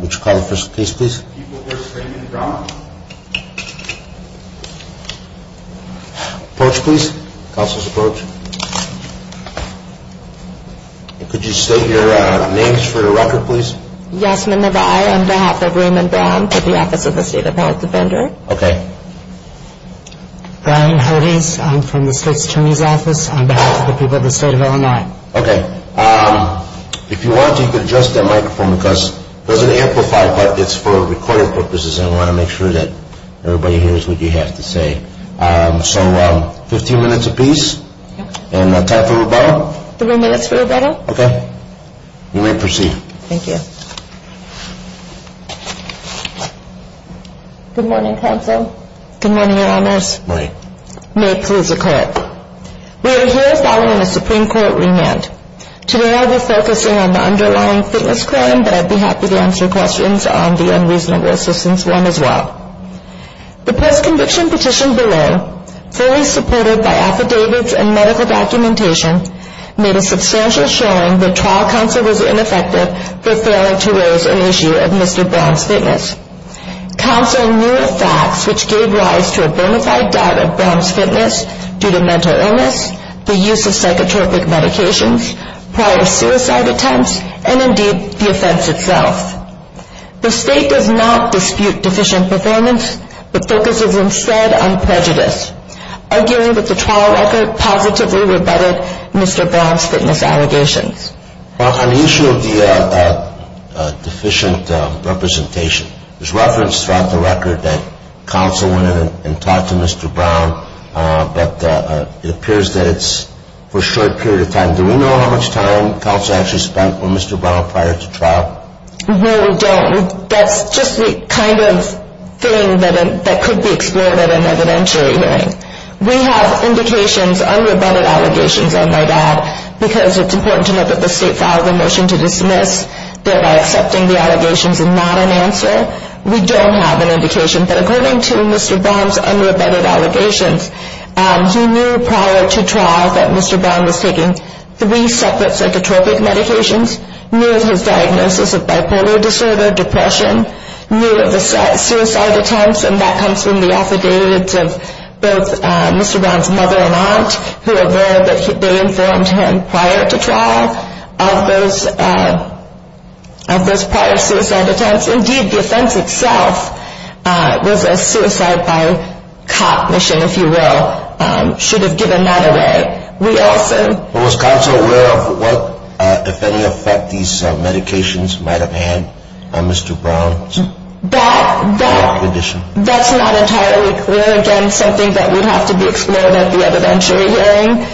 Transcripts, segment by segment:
which conference case please. Approach please. Counsel's approach. Could you state your names for your record please? Yes, my name is Maneva I on behalf of Raymond Brown for the Office of the State Appellate Defender. Okay. Brian Hodes, I'm from the State's Attorney's Office on behalf of the people of the state of Illinois. Okay. If you want to, you can adjust that microphone because it doesn't amplify but it's for recording purposes and we want to make sure that everybody hears what you have to say. So 15 minutes a piece and time for rebuttal. Three minutes for rebuttal. Okay. You may proceed. Thank you. Good morning, Counsel. Good morning, Your Honors. Morning. May it please the Court. We are here filing a Supreme Court remand. Today I will be focusing on the underlying fitness crime but I'd be happy to answer questions on the unreasonable assistance one as well. The post-conviction petition below, fully supported by affidavits and medical documentation, made a substantial showing that trial counsel was ineffective for failing to raise an issue of Mr. Brown's fitness. Counsel knew of facts which gave rise to a bonafide doubt of Brown's fitness due to mental illness, the use of psychotropic medications, prior suicide attempts, and indeed the offense itself. The State does not dispute deficient performance but focuses instead on prejudice, arguing that the trial record positively rebutted Mr. Brown's fitness allegations. Well, on the issue of the deficient representation, there's reference throughout the record that counsel went in and talked to Mr. Brown but it appears that it's for a short period of time. Do we know how much time counsel actually spent with Mr. Brown prior to trial? No, we don't. That's just the kind of thing that could be explored at an evidentiary hearing. We have indications, unrebutted allegations, I might add, because it's important to note that the State filed a motion to dismiss, thereby accepting the allegations and not an answer. We don't have an indication but according to Mr. Brown's unrebutted allegations, he knew prior to trial that Mr. Brown was taking three separate psychotropic medications, knew of his diagnosis of bipolar disorder, depression, knew of the suicide attempts, and that comes from the affidavits of both Mr. Brown's mother and aunt, who were there but they informed him prior to trial of those prior suicide attempts. Indeed, the offense itself was a suicide by cop mission, if you will, should have given that away. We also... Was counsel aware of what, if any, effect these medications might have had on Mr. Brown's condition? That's not entirely clear. Again, something that would have to be explored at the evidentiary hearing.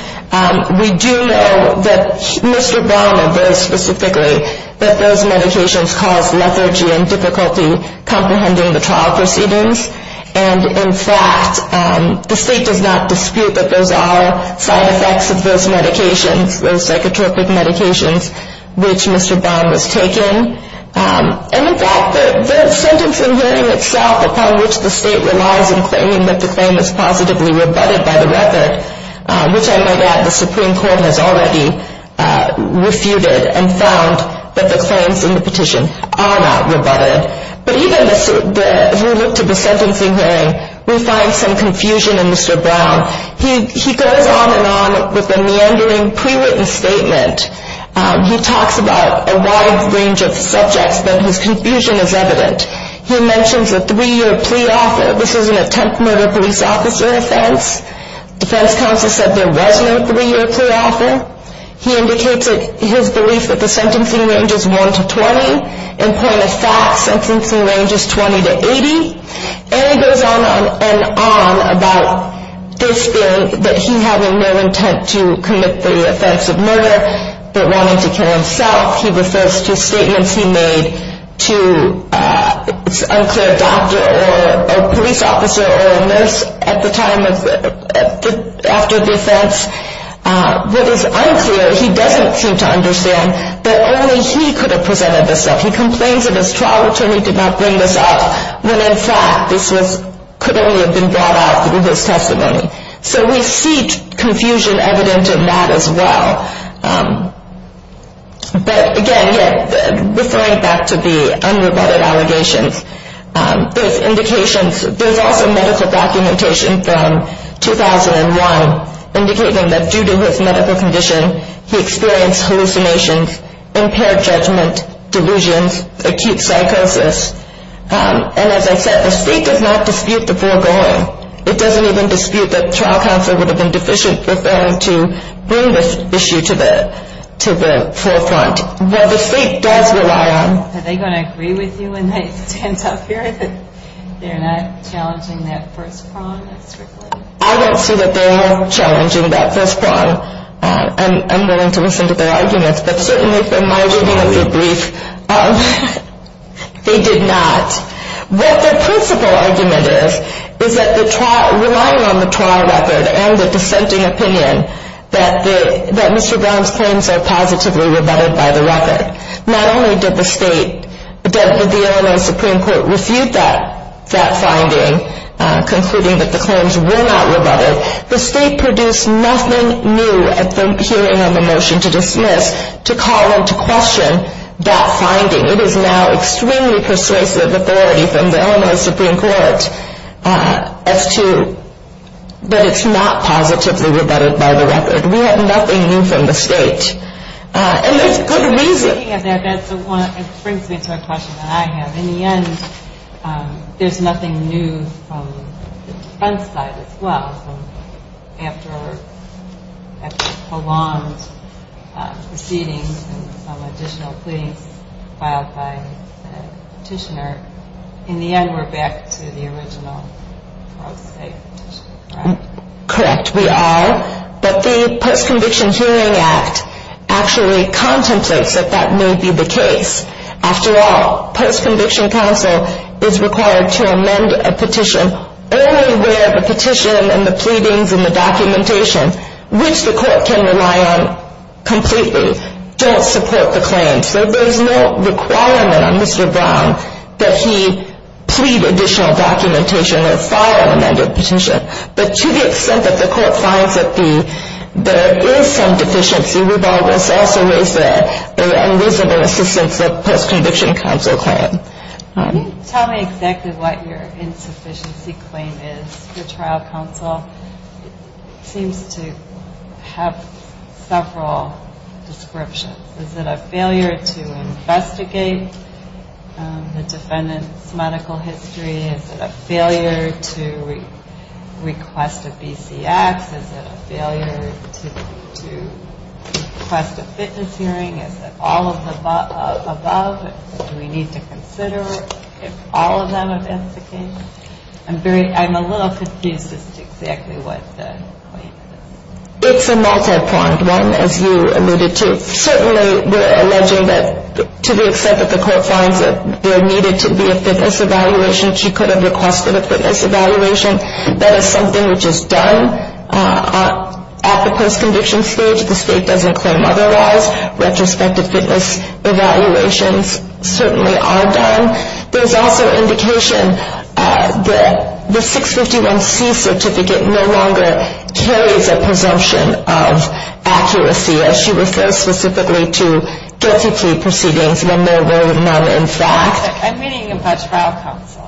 We do know that Mr. Brown, and very specifically, that those medications caused lethargy and difficulty comprehending the trial proceedings. And in fact, the State does not dispute that those are side effects of those medications, those psychotropic medications, which Mr. Brown was taking. And in fact, the sentence in hearing itself, upon which the State relies in claiming that the claim is positively rebutted by the record, which I might add, the Supreme Court has already refuted and found that the claims in the petition are not rebutted. But even as we look to the sentencing hearing, we find some confusion in Mr. Brown. He goes on and on with the meandering pre-written statement. He talks about a wide range of subjects, but his confusion is evident. He mentions a three-year plea offer. This is an attempt murder police officer offense. Defense counsel said there was no three-year plea offer. He indicates his belief that the sentencing range is 1 to 20. In point of fact, sentencing range is 20 to 80. And he goes on and on about this being that he having no intent to commit the offense of murder, but wanting to kill himself. He refers to statements he made to an unclear doctor or a police officer or a nurse at the time after the offense. What is unclear, he doesn't seem to understand that only he could have presented this stuff. He complains that his trial attorney did not bring this up when, in fact, this could only have been brought out through his testimony. So we see confusion evident in that as well. But again, referring back to the unrebutted allegations, there's indications, there's also medical documentation from 2001, indicating that due to his medical condition, he experienced hallucinations, impaired judgment, delusions, acute psychosis. And as I said, the state does not dispute the foregoing. It doesn't even dispute that trial counsel would have been deficient with them to bring this issue to the forefront. Well, the state does rely on. Are they going to agree with you when they stand up here that they're not challenging that first prong? I don't see that they are challenging that first prong. And I'm willing to listen to their arguments, but certainly from my reading of the brief, they did not. What the principal argument is, is that the trial, relying on the trial record and the dissenting opinion, that Mr. Brown's claims are positively rebutted by the record. Not only did the state, did the Illinois Supreme Court refute that finding, concluding that the claims were not rebutted, the state produced nothing new at the hearing of a motion to dismiss to call into question that finding. It is now extremely persuasive authority from the Illinois Supreme Court as to, but it's not positively rebutted by the record. We have nothing new from the state, and there's good reason. Speaking of that, that brings me to a question that I have. In the end, there's nothing new from the front side as well. After prolonged proceedings and some additional pleadings filed by the petitioner, in the end we're back to the original state petitioner, correct? Correct, we are. But the Post-Conviction Hearing Act actually contemplates that that may be the case. After all, post-conviction counsel is required to amend a petition only where the petition and the pleadings and the documentation, which the court can rely on completely, don't support the claims. So there's no requirement on Mr. Brown that he plead additional documentation or file an amended petition. But to the extent that the court finds that there is some deficiency, we've always also raised that and raised it in assistance of post-conviction counsel claim. Can you tell me exactly what your insufficiency claim is for trial counsel? It seems to have several descriptions. Is it a failure to investigate the defendant's medical history? Is it a failure to request a BCX? Is it a failure to request a fitness hearing? Is it all of the above? Do we need to consider if all of them are the case? I'm a little confused as to exactly what the claim is. It's a multi-pronged one, as you alluded to. Certainly, we're alleging that to the extent that the court finds that there needed to be a fitness evaluation, she could have requested a fitness evaluation. That is something which is done at the post-conviction stage. The state doesn't claim otherwise. Retrospective fitness evaluations certainly are done. There's also indication that the 651C certificate no longer carries a presumption of accuracy, as she refers specifically to guilty plea proceedings when there were none in fact. I'm meaning about trial counsel.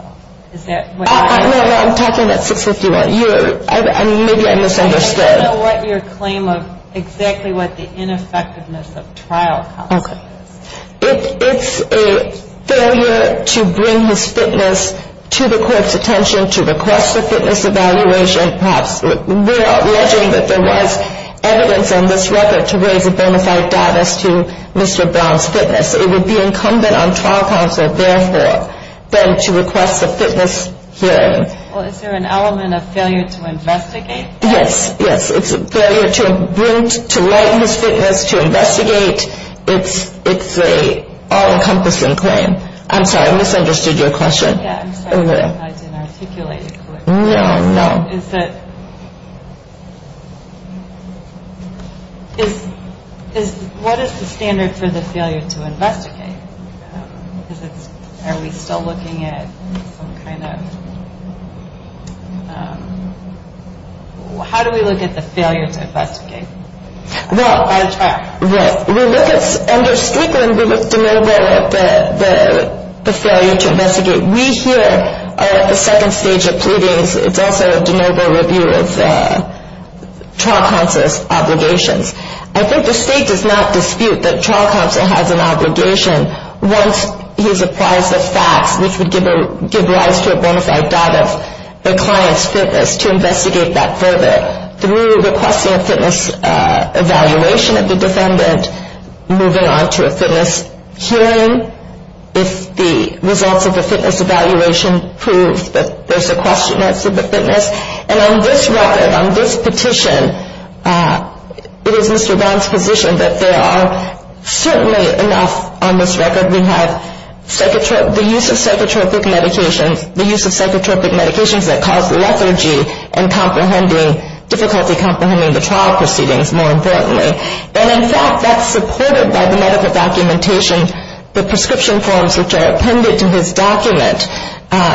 No, I'm talking about 651. Maybe I misunderstood. I don't know what your claim of exactly what the ineffectiveness of trial counsel is. It's a failure to bring his fitness to the court's attention to request a fitness evaluation. Perhaps we're alleging that there was evidence on this record to raise a bona fide dot as to Mr. Brown's fitness. It would be incumbent on trial counsel, therefore, then to request a fitness hearing. Well, is there an element of failure to investigate that? Yes, yes. It's a failure to bring, to write his fitness, to investigate. It's an all-encompassing claim. I'm sorry, I misunderstood your question. Yeah, I'm sorry. I didn't articulate it correctly. No, no. What is the standard for the failure to investigate? Because it's, are we still looking at some kind of, how do we look at the failure to investigate? Well, we look at, under Strickland, we look at the failure to investigate. We here are at the second stage of pleadings. It's also a de novo review of trial counsel's obligations. I think the state does not dispute that trial counsel has an obligation, once he's apprised the facts, which would give rise to a bona fide dot of the client's fitness, to investigate that further. Through requesting a fitness evaluation of the defendant, moving on to a fitness hearing, if the results of the fitness evaluation prove that there's a question as to the fitness. And on this record, on this petition, it is Mr. Brown's position that there are certainly enough on this record. We have the use of psychotropic medications, the use of psychotropic medications that cause lethargy and difficulty comprehending the trial proceedings, more importantly. And, in fact, that's supported by the medical documentation, the prescription forms which are appended to his document,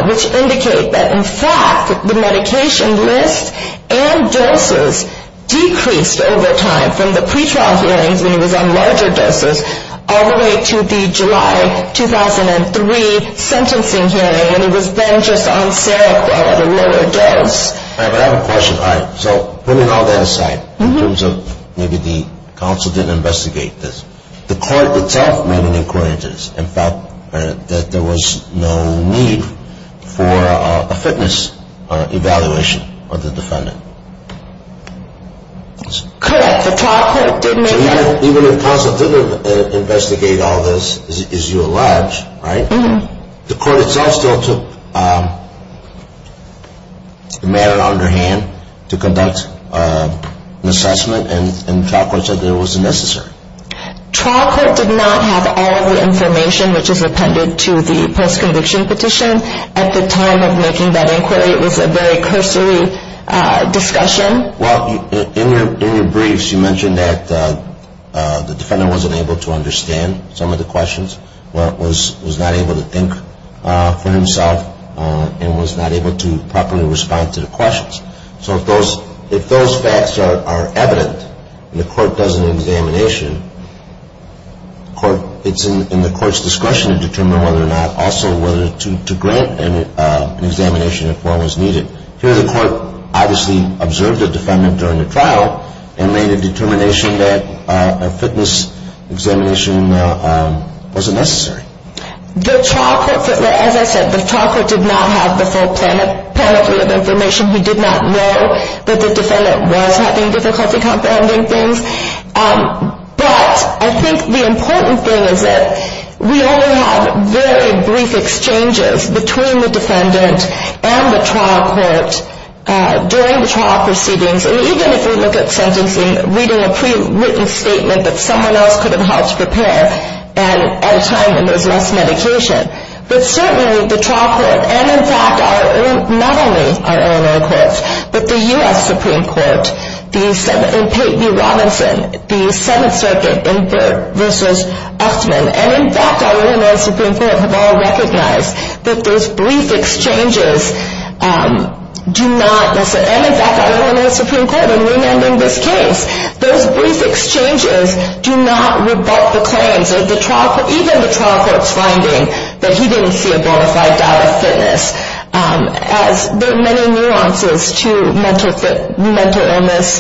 which indicate that, in fact, the medication list and doses decreased over time from the pretrial hearings, when he was on larger doses, all the way to the July 2003 sentencing hearing, when he was then just on Seroquel at a lower dose. All right, but I have a question. All right, so putting all that aside, in terms of maybe the counsel didn't investigate this, the court itself made an inquiry into this, in fact, that there was no need for a fitness evaluation of the defendant. Correct, the trial court didn't make that. So even if counsel didn't investigate all this, as you allege, right, the court itself still took the matter under hand to conduct an assessment, and the trial court said that it wasn't necessary. Trial court did not have all the information which is appended to the post-conviction petition. At the time of making that inquiry, it was a very cursory discussion. Well, in your briefs, you mentioned that the defendant wasn't able to understand some of the questions, was not able to think for himself, and was not able to properly respond to the questions. So if those facts are evident and the court does an examination, it's in the court's discretion to determine whether or not also to grant an examination if one was needed. Here the court obviously observed the defendant during the trial and made a determination that a fitness examination wasn't necessary. The trial court, as I said, the trial court did not have the full panel of information. We did not know that the defendant was having difficulty comprehending things. But I think the important thing is that we only had very brief exchanges between the defendant and the trial court during the trial proceedings. And even if we look at sentencing, reading a pre-written statement that someone else could have had to prepare and at a time when there was less medication. But certainly the trial court, and in fact not only our Illinois courts, but the U.S. Supreme Court in Peyton v. Robinson, the Seventh Circuit in Burt v. Uchtman, and in fact our Illinois Supreme Court have all recognized that those brief exchanges do not, and in fact our Illinois Supreme Court in remanding this case, those brief exchanges do not rebut the claims of the trial court, even the trial court's finding that he didn't see a bona fide doubt of fitness. As there are many nuances to mental illness,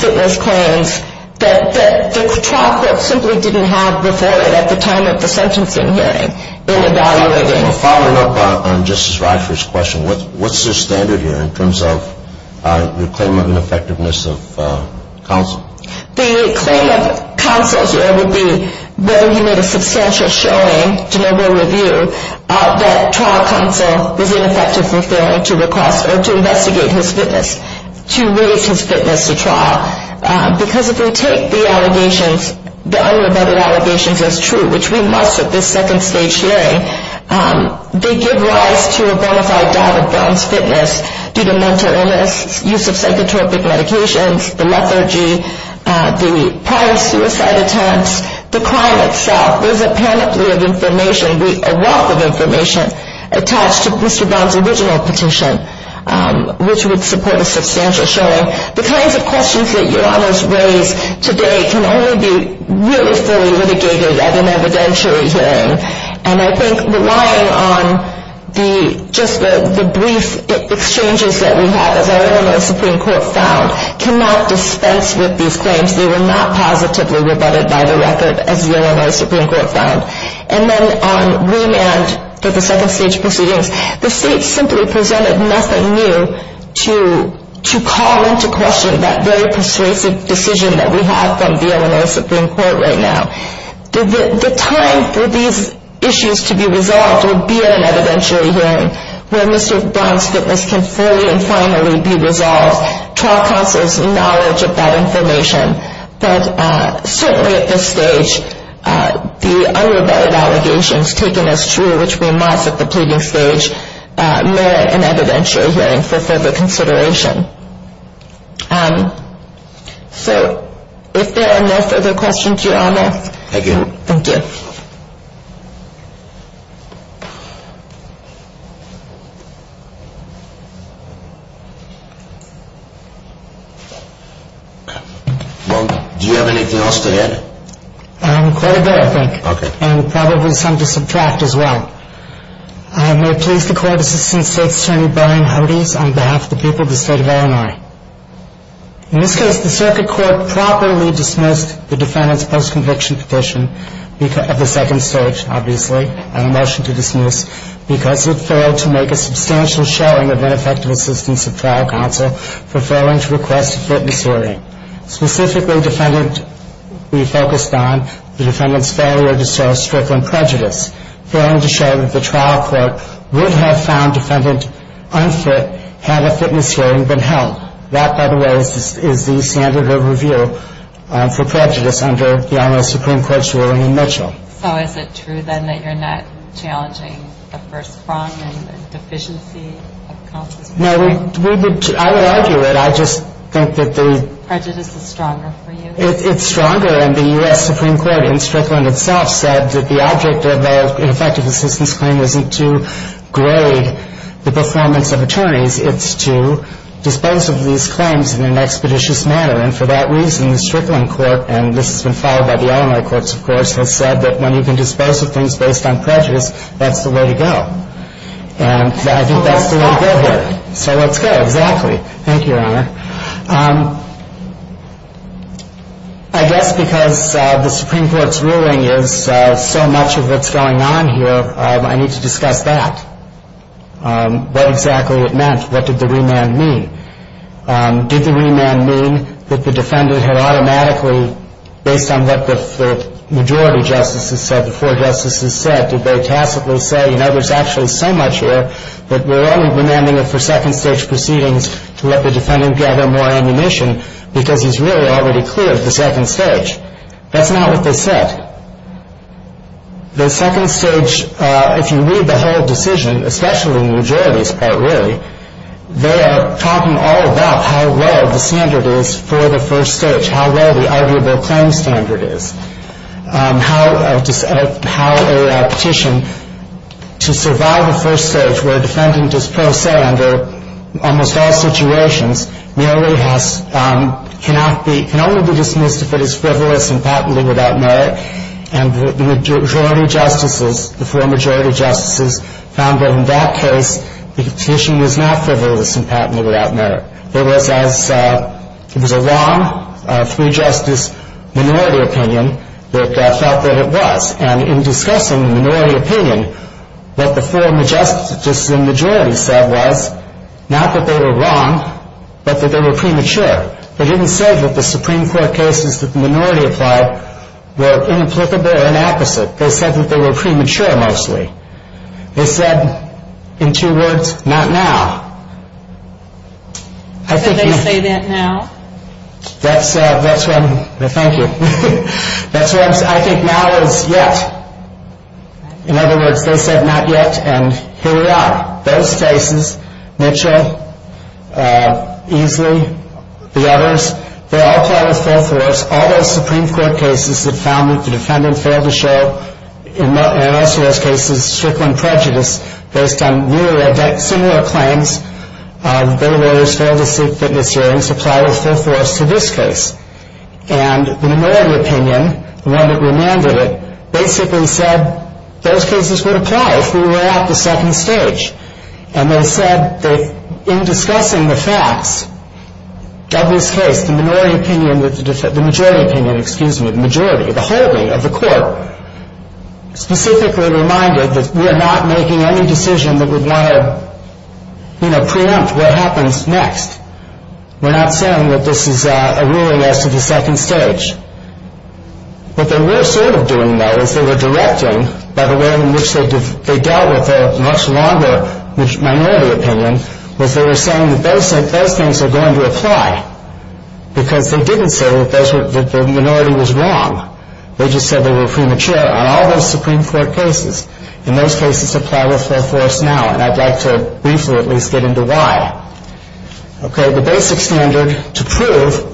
fitness claims, that the trial court simply didn't have before it at the time of the sentencing hearing in evaluating. Following up on Justice Rockford's question, what's the standard here in terms of the claim of ineffectiveness of counsel? The claim of counsel here would be whether he made a substantial showing to noble review that trial counsel was ineffective in failing to request or to investigate his fitness, to raise his fitness to trial. Because if we take the allegations, the unrebutted allegations as true, which we must at this second stage hearing, they give rise to a bona fide doubt of Brown's fitness due to mental illness, use of psychotropic medications, the lethargy, the prior suicide attempts, the crime itself. There's a panoply of information, a wealth of information attached to Mr. Brown's original petition, which would support a substantial showing. The kinds of questions that Your Honors raise today can only be really fully litigated at an evidentiary hearing. And I think relying on just the brief exchanges that we have, as our Illinois Supreme Court found, cannot dispense with these claims. They were not positively rebutted by the record, as the Illinois Supreme Court found. And then on remand for the second stage proceedings, the state simply presented nothing new to call into question that very persuasive decision that we have from the Illinois Supreme Court right now. The time for these issues to be resolved will be at an evidentiary hearing, where Mr. Brown's fitness can fully and finally be resolved, trial counsel's knowledge of that information. But certainly at this stage, the unrebutted allegations taken as true, which we must at the pleading stage, merit an evidentiary hearing for further consideration. So if there are no further questions, Your Honors. Thank you. Thank you. Do you have anything else to add? Quite a bit, I think. Okay. And probably some to subtract as well. I may please the Court Assistant State's Attorney, Brian Hodes, on behalf of the people of the state of Illinois. In this case, the circuit court properly dismissed the defendant's post-conviction petition of the second stage, obviously, and a motion to dismiss, because it failed to make a substantial showing of ineffective assistance of trial counsel for failing to request a fitness hearing. Specifically, we focused on the defendant's failure to show strength in prejudice, failing to show that the trial court would have found defendant unfit had a fitness hearing been held. That, by the way, is the standard of review for prejudice under the Illinois Supreme Court's ruling in Mitchell. So is it true, then, that you're not challenging the first prong and the deficiency of counsel's freedom? No, I would argue it. I just think that the prejudice is stronger for you. It's stronger. And the U.S. Supreme Court in Strickland itself said that the object of an effective assistance claim isn't to grade the performance of attorneys. It's to dispose of these claims in an expeditious manner. And for that reason, the Strickland court, and this has been followed by the Illinois courts, of course, has said that when you can dispose of things based on prejudice, that's the way to go. And I think that's the way to go here. So let's go. Exactly. Thank you, Your Honor. I guess because the Supreme Court's ruling is so much of what's going on here, I need to discuss that. What exactly it meant. What did the remand mean? Did the remand mean that the defendant had automatically, based on what the majority justices said, the four justices said, did they tacitly say, I mean, I know there's actually so much here, but we're only remanding it for second-stage proceedings to let the defendant gather more ammunition because he's really already cleared the second stage. That's not what they said. The second stage, if you read the whole decision, especially the majority's part, really, they are talking all about how well the standard is for the first stage, how well the arguable claim standard is, how a petition to survive a first stage where a defendant is pro se under almost all situations merely can only be dismissed if it is frivolous and patently without merit. And the majority justices, the four majority justices, found that in that case, the petition was not frivolous and patently without merit. It was a wrong three-justice minority opinion that felt that it was. And in discussing the minority opinion, what the four majority justices said was not that they were wrong, but that they were premature. They didn't say that the Supreme Court cases that the minority applied were inapplicable or inapposite. They said that they were premature mostly. They said in two words, not now. Did they say that now? That's when, thank you. That's when I think now is yet. In other words, they said not yet, and here we are. Those cases, Mitchell, Easley, the others, they're all part of full force. All those Supreme Court cases that found that the defendant failed to show, and in most of those cases, strictly prejudice based on similar claims, the bail lawyers failed to seek witness hearings apply with full force to this case. And the minority opinion, the one that remanded it, basically said those cases would apply if we were at the second stage. And they said that in discussing the facts, Douglas Case, the minority opinion, the majority opinion, excuse me, the majority, the whole of the court, specifically reminded that we're not making any decision that would want to preempt what happens next. We're not saying that this is a ruling as to the second stage. What they were sort of doing, though, is they were directing, by the way in which they dealt with their much longer minority opinion, was they were saying that those things are going to apply because they didn't say that the minority was wrong. They just said they were premature. And all those Supreme Court cases, in those cases, apply with full force now, and I'd like to briefly at least get into why. Okay, the basic standard to prove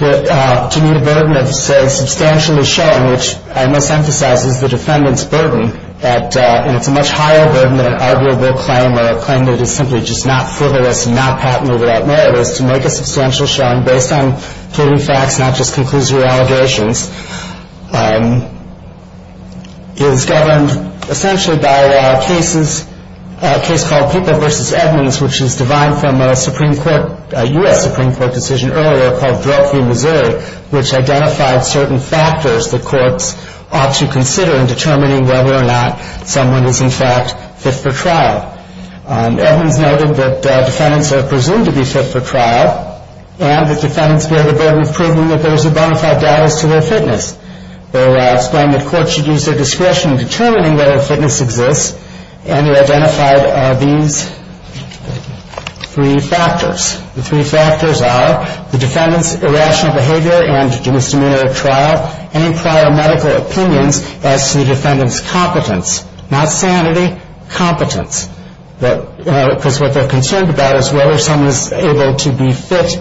that to meet a burden of, say, substantially showing, which I must emphasize is the defendant's burden, and it's a much higher burden than an arguable claim or a claim that is simply just not frivolous and not patented without merit, is to make a substantial showing based on pleading facts, not just conclusive allegations. It is governed essentially by cases, a case called Pippa v. Edmonds, which is derived from a Supreme Court, a U.S. Supreme Court decision earlier called Drug Free Missouri, which identified certain factors that courts ought to consider in determining whether or not someone is in fact fit for trial. Edmonds noted that defendants are presumed to be fit for trial and that defendants bear the burden of proving that there is a bona fide data as to their fitness. They explained that courts should use their discretion in determining whether fitness exists, and they identified these three factors. The three factors are the defendant's irrational behavior and misdemeanor at trial, any prior medical opinions as to the defendant's competence, not sanity, competence, because what they're concerned about is whether someone is able to be fit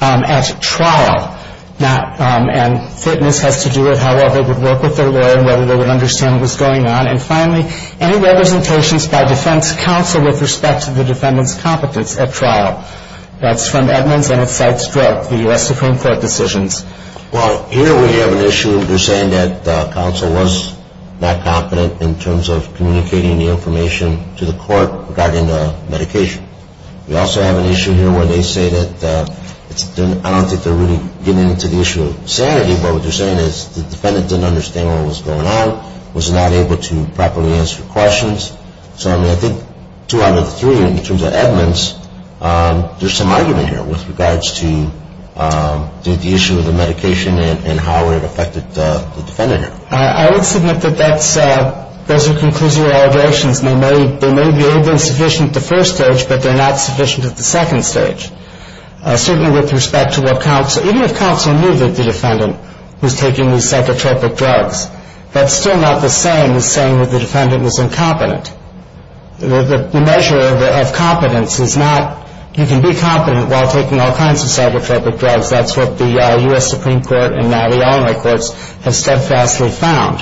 at trial, and fitness has to do with how well they would work with their lawyer and whether they would understand what was going on. And finally, any representations by defense counsel with respect to the defendant's competence at trial. That's from Edmonds, and it cites drug, the U.S. Supreme Court decisions. Well, here we have an issue where they're saying that counsel was not competent in terms of communicating the information to the court regarding the medication. We also have an issue here where they say that I don't think they're really getting into the issue of sanity, but what they're saying is the defendant didn't understand what was going on, was not able to properly answer questions. So, I mean, I think two out of the three in terms of Edmonds, there's some argument here with regards to the issue of the medication and how it affected the defendant here. I would submit that those are conclusive allegations. They may have been sufficient at the first stage, but they're not sufficient at the second stage. Certainly with respect to what counsel, even if counsel knew that the defendant was taking these psychotropic drugs, that's still not the same as saying that the defendant was incompetent. The measure of competence is not you can be competent while taking all kinds of psychotropic drugs. That's what the U.S. Supreme Court and now the all-American courts have steadfastly found.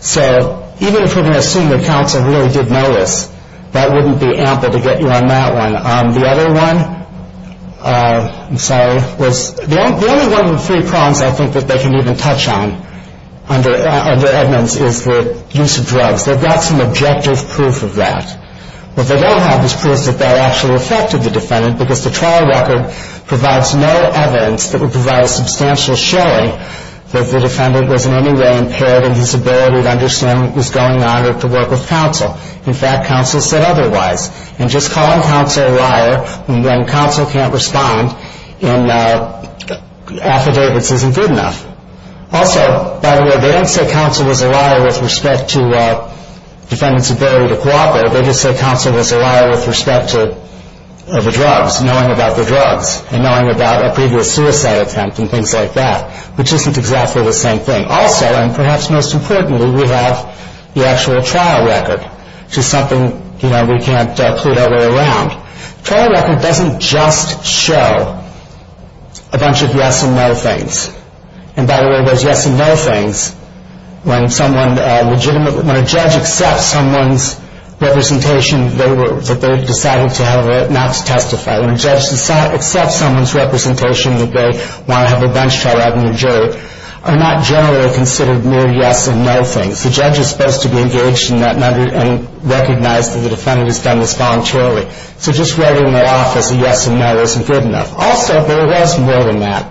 So even if we're going to assume that counsel really did notice, that wouldn't be ample to get you on that one. The other one, I'm sorry, was the only one of the three problems I think that they can even touch on under Edmonds is the use of drugs. They've got some objective proof of that. What they don't have is proof that that actually affected the defendant because the trial record provides no evidence that would provide a substantial showing that the defendant was in any way impaired in his ability to understand what was going on or to work with counsel. In fact, counsel said otherwise. And just calling counsel a liar when counsel can't respond in affidavits isn't good enough. Also, by the way, they don't say counsel was a liar with respect to defendants ability to cooperate. They just say counsel was a liar with respect to the drugs, knowing about the drugs, and knowing about a previous suicide attempt and things like that, which isn't exactly the same thing. Also, and perhaps most importantly, we have the actual trial record, which is something we can't put our way around. The trial record doesn't just show a bunch of yes and no things. And, by the way, those yes and no things, when a judge accepts someone's representation that they've decided not to testify, when a judge accepts someone's representation that they want to have a bench trial out in the jury, are not generally considered mere yes and no things. The judge is supposed to be engaged in that matter and recognize that the defendant has done this voluntarily. So just writing that off as a yes and no wasn't good enough. Also, there was more than that.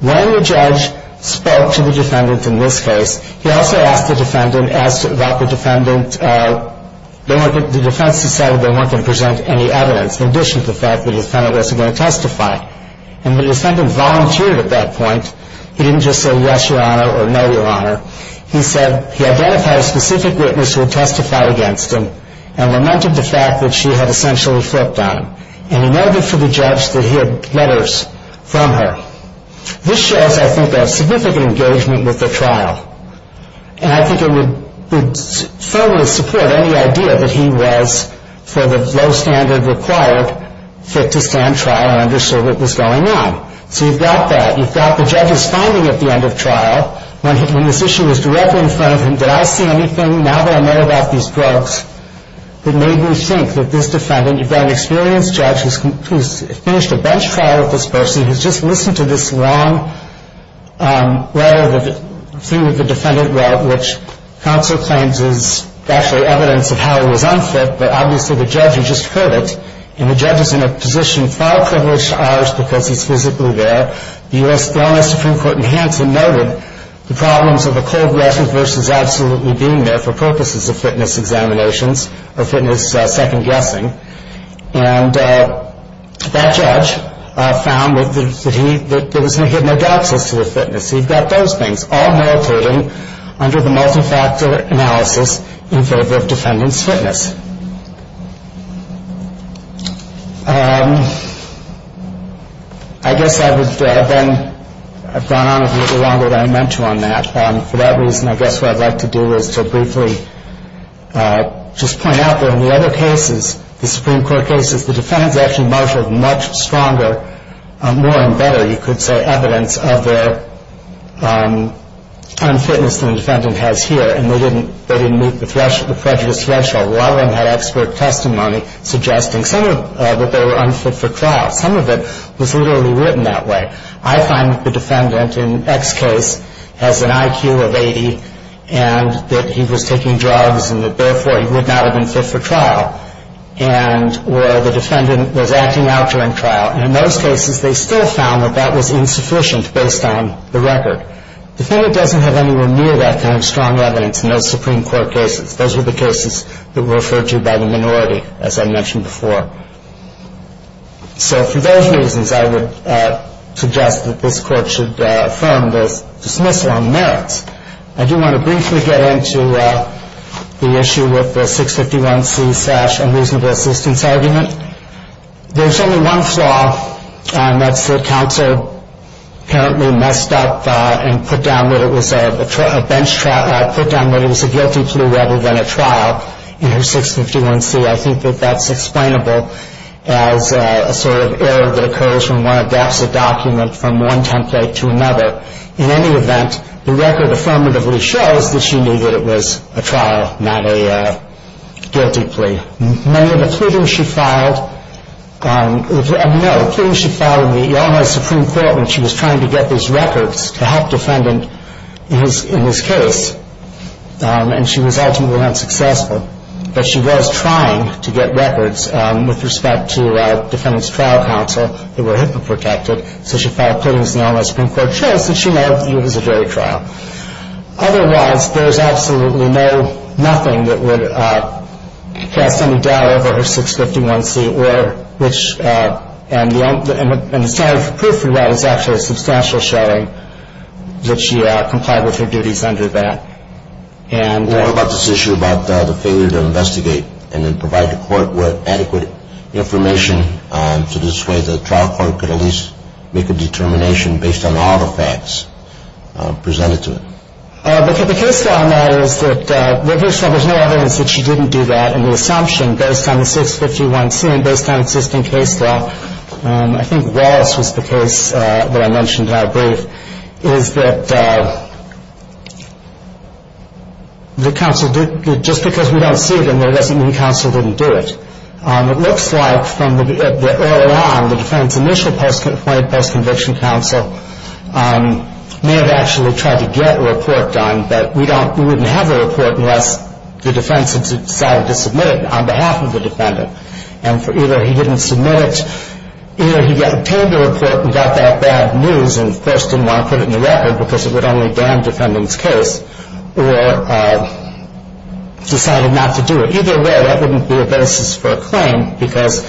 When the judge spoke to the defendant in this case, he also asked the defendant, asked that the defendant, the defense decided they weren't going to present any evidence, in addition to the fact the defendant wasn't going to testify. And the defendant volunteered at that point. He identified a specific witness who had testified against him and lamented the fact that she had essentially flipped on him. And he noted to the judge that he had letters from her. This shows, I think, a significant engagement with the trial. And I think it would firmly support any idea that he was, for the low standard required, fit to stand trial and understood what was going on. So you've got that. You've got the judge's finding at the end of trial. When this issue was directly in front of him, did I see anything now that I know about these drugs that made me think that this defendant, you've got an experienced judge who's finished a bench trial with this person, who's just listened to this long letter through the defendant route, which counsel claims is actually evidence of how he was unfit. But obviously the judge had just heard it. And the judge is in a position far privileged to ours because he's physically there. The U.S. Supreme Court in Hanson noted the problems of a cold lesson versus absolutely being there for purposes of fitness examinations or fitness second guessing. And that judge found that he had no doubts as to the fitness. So you've got those things all meditating under the multi-factor analysis in favor of defendant's fitness. I guess I've gone on a little longer than I meant to on that. For that reason, I guess what I'd like to do is to briefly just point out that in the other cases, the Supreme Court cases, the defendants actually marshaled much stronger, more and better, you could say, evidence of their unfitness than the defendant has here. And they didn't meet the prejudice threshold. A lot of them had expert testimony suggesting that they were unfit for trial. Some of it was literally written that way. I find the defendant in X case has an IQ of 80 and that he was taking drugs and that therefore he would not have been fit for trial, and where the defendant was acting out during trial. And in those cases, they still found that that was insufficient based on the record. Defendant doesn't have anywhere near that kind of strong evidence in those Supreme Court cases. Those were the cases that were referred to by the minority, as I mentioned before. So for those reasons, I would suggest that this Court should affirm this dismissal on merits. I do want to briefly get into the issue with the 651C slash unreasonable assistance argument. There's only one flaw, and that's that Counsel apparently messed up and put down that it was a guilty plea rather than a trial in her 651C. I think that that's explainable as a sort of error that occurs when one adapts a document from one template to another. In any event, the record affirmatively shows that she knew that it was a trial, not a guilty plea. Many of the pleadings she filed on the almighty Supreme Court when she was trying to get these records to help defendant in this case, and she was ultimately unsuccessful. But she was trying to get records with respect to defendant's trial counsel that were HIPAA protected, so she filed pleadings in the almighty Supreme Court. It shows that she knew it was a jury trial. Otherwise, there's absolutely nothing that would cast any doubt over her 651C, and the standard of proof we want is actually a substantial showing that she complied with her duties under that. What about this issue about the failure to investigate and then provide the Court with adequate information so this way the trial court could at least make a determination based on all the facts presented to it? The case law matters that there's no evidence that she didn't do that, and the assumption based on the 651C and based on existing case law, I think Wallace was the case that I mentioned in our brief, is that just because we don't see it in there doesn't mean counsel didn't do it. It looks like early on the defense's initial post-conviction counsel may have actually tried to get a report done, but we wouldn't have a report unless the defense had decided to submit it on behalf of the defendant. And either he didn't submit it, either he obtained a report and got that bad news and, of course, didn't want to put it in the record because it would only dam defendants' case, or decided not to do it. Either way, that wouldn't be a basis for a claim because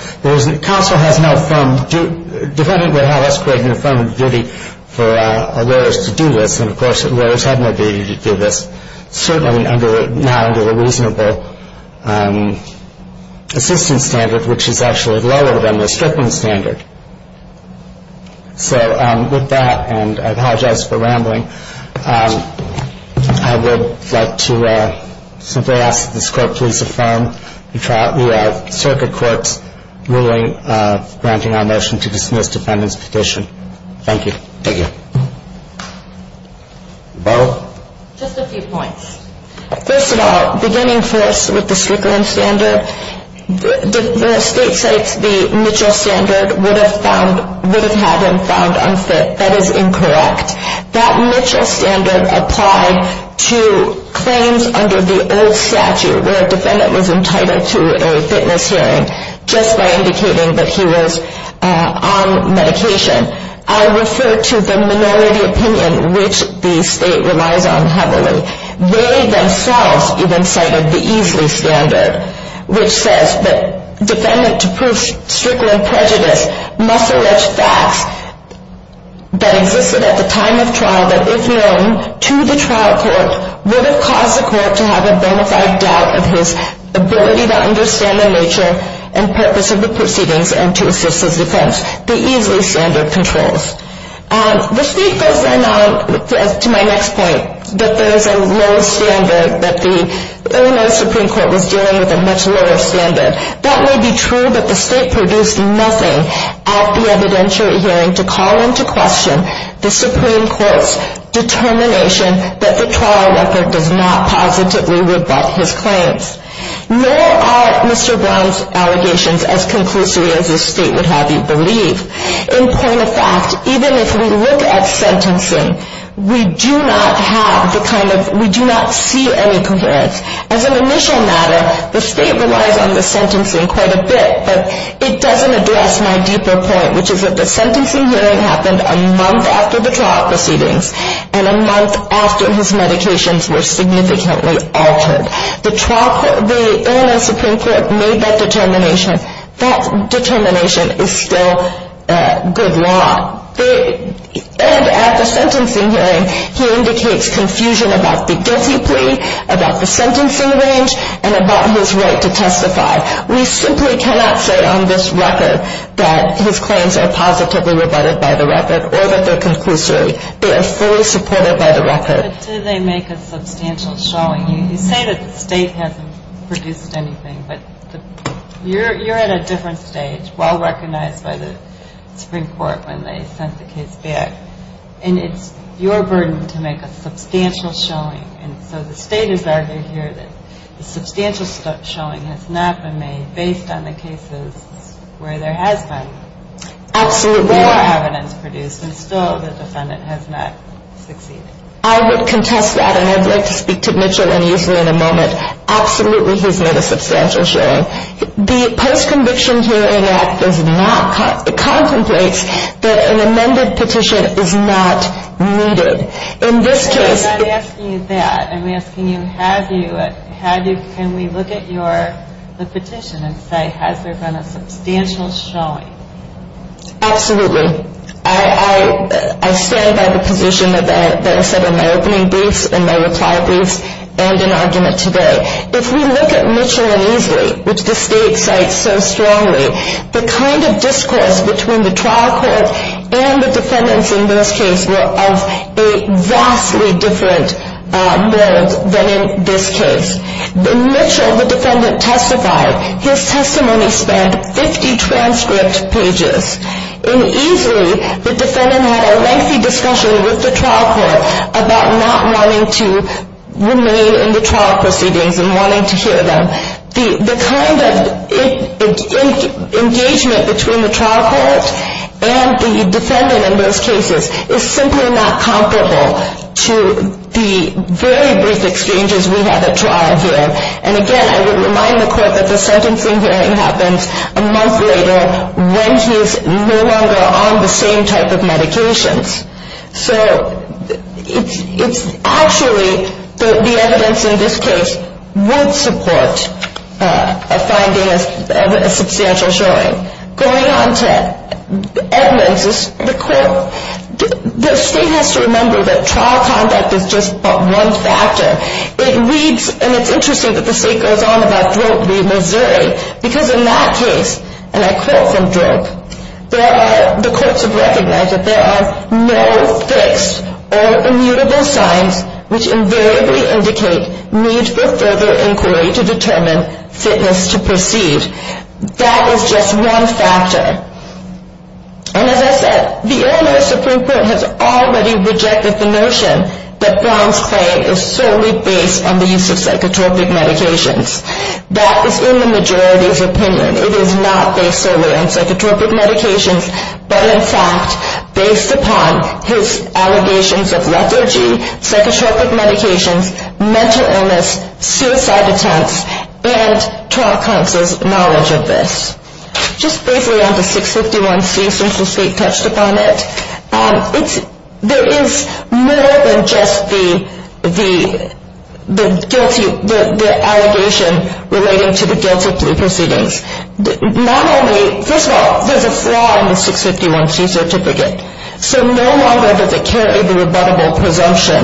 counsel has no affirmative duty for a lawyer to do this, and, of course, lawyers have no duty to do this, certainly not under the reasonable assistance standard, which is actually lower than the stripping standard. So with that, and I apologize for rambling, I would like to simply ask that this court please affirm the circuit court's ruling granting our motion to dismiss defendant's petition. Thank you. Thank you. Bo? Just a few points. First of all, beginning for us with the stripping standard, the state states the Mitchell standard would have had him found unfit. That is incorrect. That Mitchell standard applied to claims under the old statute where a defendant was entitled to a fitness hearing just by indicating that he was on medication. I refer to the minority opinion, which the state relies on heavily. They themselves even cited the Easley standard, which says that defendant to prove strickland prejudice must allege facts that existed at the time of trial that if known to the trial court would have caused the court to have a bona fide doubt of his ability to understand the nature and purpose of the proceedings and to assist his defense. The Easley standard controls. The state goes then on to my next point, that there is a low standard, that the Illinois Supreme Court was dealing with a much lower standard. That may be true, but the state produced nothing at the evidentiary hearing to call into question the Supreme Court's determination that the trial record does not positively rebut his claims. Nor are Mr. Brown's allegations as conclusive as the state would have you believe. In point of fact, even if we look at sentencing, we do not have the kind of, we do not see any coherence. As an initial matter, the state relies on the sentencing quite a bit, but it doesn't address my deeper point, which is that the sentencing hearing happened a month after the trial proceedings and a month after his medications were significantly altered. The Illinois Supreme Court made that determination. That determination is still good law. And at the sentencing hearing, he indicates confusion about the guilty plea, about the sentencing range, and about his right to testify. We simply cannot say on this record that his claims are positively rebutted by the record or that they're conclusive. They are fully supported by the record. But do they make a substantial showing? You say that the state hasn't produced anything, but you're at a different stage, well recognized by the Supreme Court when they sent the case back. And it's your burden to make a substantial showing. And so the state has argued here that the substantial showing has not been made based on the cases where there has been more evidence produced, and still the defendant has not succeeded. I would contest that, and I'd like to speak to Mitchell and Easley in a moment. Absolutely, he's made a substantial showing. The post-conviction hearing act does not contemplate that an amended petition is not needed. In this case – I'm not asking you that. I'm asking you, have you? Can we look at the petition and say, has there been a substantial showing? Absolutely. I stand by the position that I said in my opening briefs, in my reply briefs, and in argument today. If we look at Mitchell and Easley, which the state cites so strongly, the kind of discourse between the trial court and the defendants in this case were of a vastly different blend than in this case. In Mitchell, the defendant testified. His testimony spanned 50 transcript pages. In Easley, the defendant had a lengthy discussion with the trial court about not wanting to remain in the trial proceedings and wanting to hear them. The kind of engagement between the trial court and the defendant in those cases is simply not comparable to the very brief exchanges we had at trial here. And again, I would remind the court that the sentencing hearing happens a month later when he is no longer on the same type of medications. So it's actually the evidence in this case would support a finding of a substantial showing. Going on to Edmonds, the state has to remember that trial conduct is just but one factor. It reads, and it's interesting that the state goes on about throat bleed Missouri, because in that case, and I quote from Drake, the courts have recognized that there are no fixed or immutable signs which invariably indicate need for further inquiry to determine fitness to proceed. That is just one factor. And as I said, the earlier Supreme Court has already rejected the notion that bronze clay is solely based on the use of psychotropic medications. That is in the majority's opinion. It is not based solely on psychotropic medications, but in fact based upon his allegations of lethargy, psychotropic medications, mental illness, suicide attempts, and trial counsel's knowledge of this. Just briefly on the 651C since the state touched upon it, there is more than just the guilty, the allegation relating to the guilty proceedings. Not only, first of all, there's a flaw in the 651C certificate. So no longer does it carry the rebuttable presumption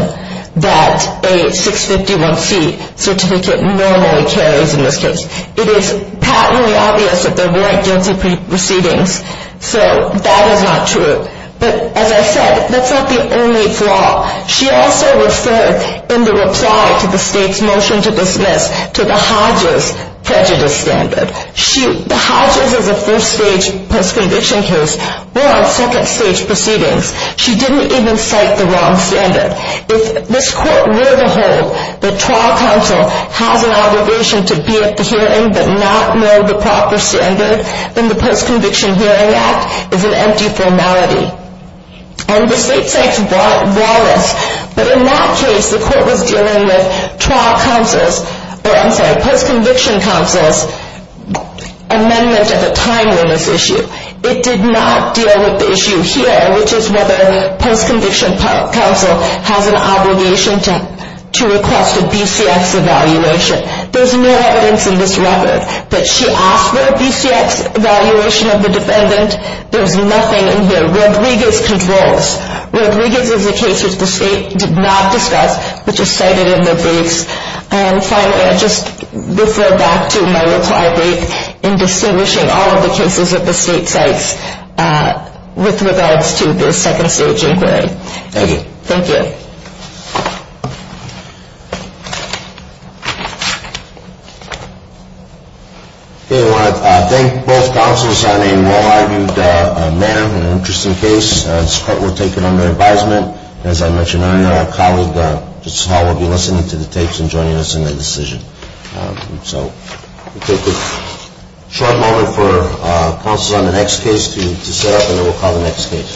that a 651C certificate normally carries in this case. It is patently obvious that there weren't guilty proceedings, so that is not true. But as I said, that's not the only flaw. She also referred in the reply to the state's motion to dismiss to the Hodges prejudice standard. The Hodges is a first-stage post-conviction case. We're on second-stage proceedings. She didn't even cite the wrong standard. If this court were to hold that trial counsel has an obligation to be at the hearing but not know the proper standard, then the Post-Conviction Hearing Act is an empty formality. And the state cites Wallace. But in that case, the court was dealing with post-conviction counsel's amendment of a timeliness issue. It did not deal with the issue here, which is whether post-conviction counsel has an obligation to request a BCS evaluation. There's no evidence in this record that she asked for a BCS evaluation of the defendant. There's nothing in here. Rodriguez controls. Rodriguez is a case which the state did not discuss but just cited in their briefs. And finally, I'll just refer back to my reply brief in distinguishing all of the cases that the state cites with regards to the second-stage inquiry. Thank you. We want to thank both counsels on a well-argued matter and an interesting case. This court will take it under advisement. As I mentioned earlier, our colleague Justice Hall will be listening to the tapes and joining us in the decision. So we'll take a short moment for counsels on the next case to set up and then we'll call the next case.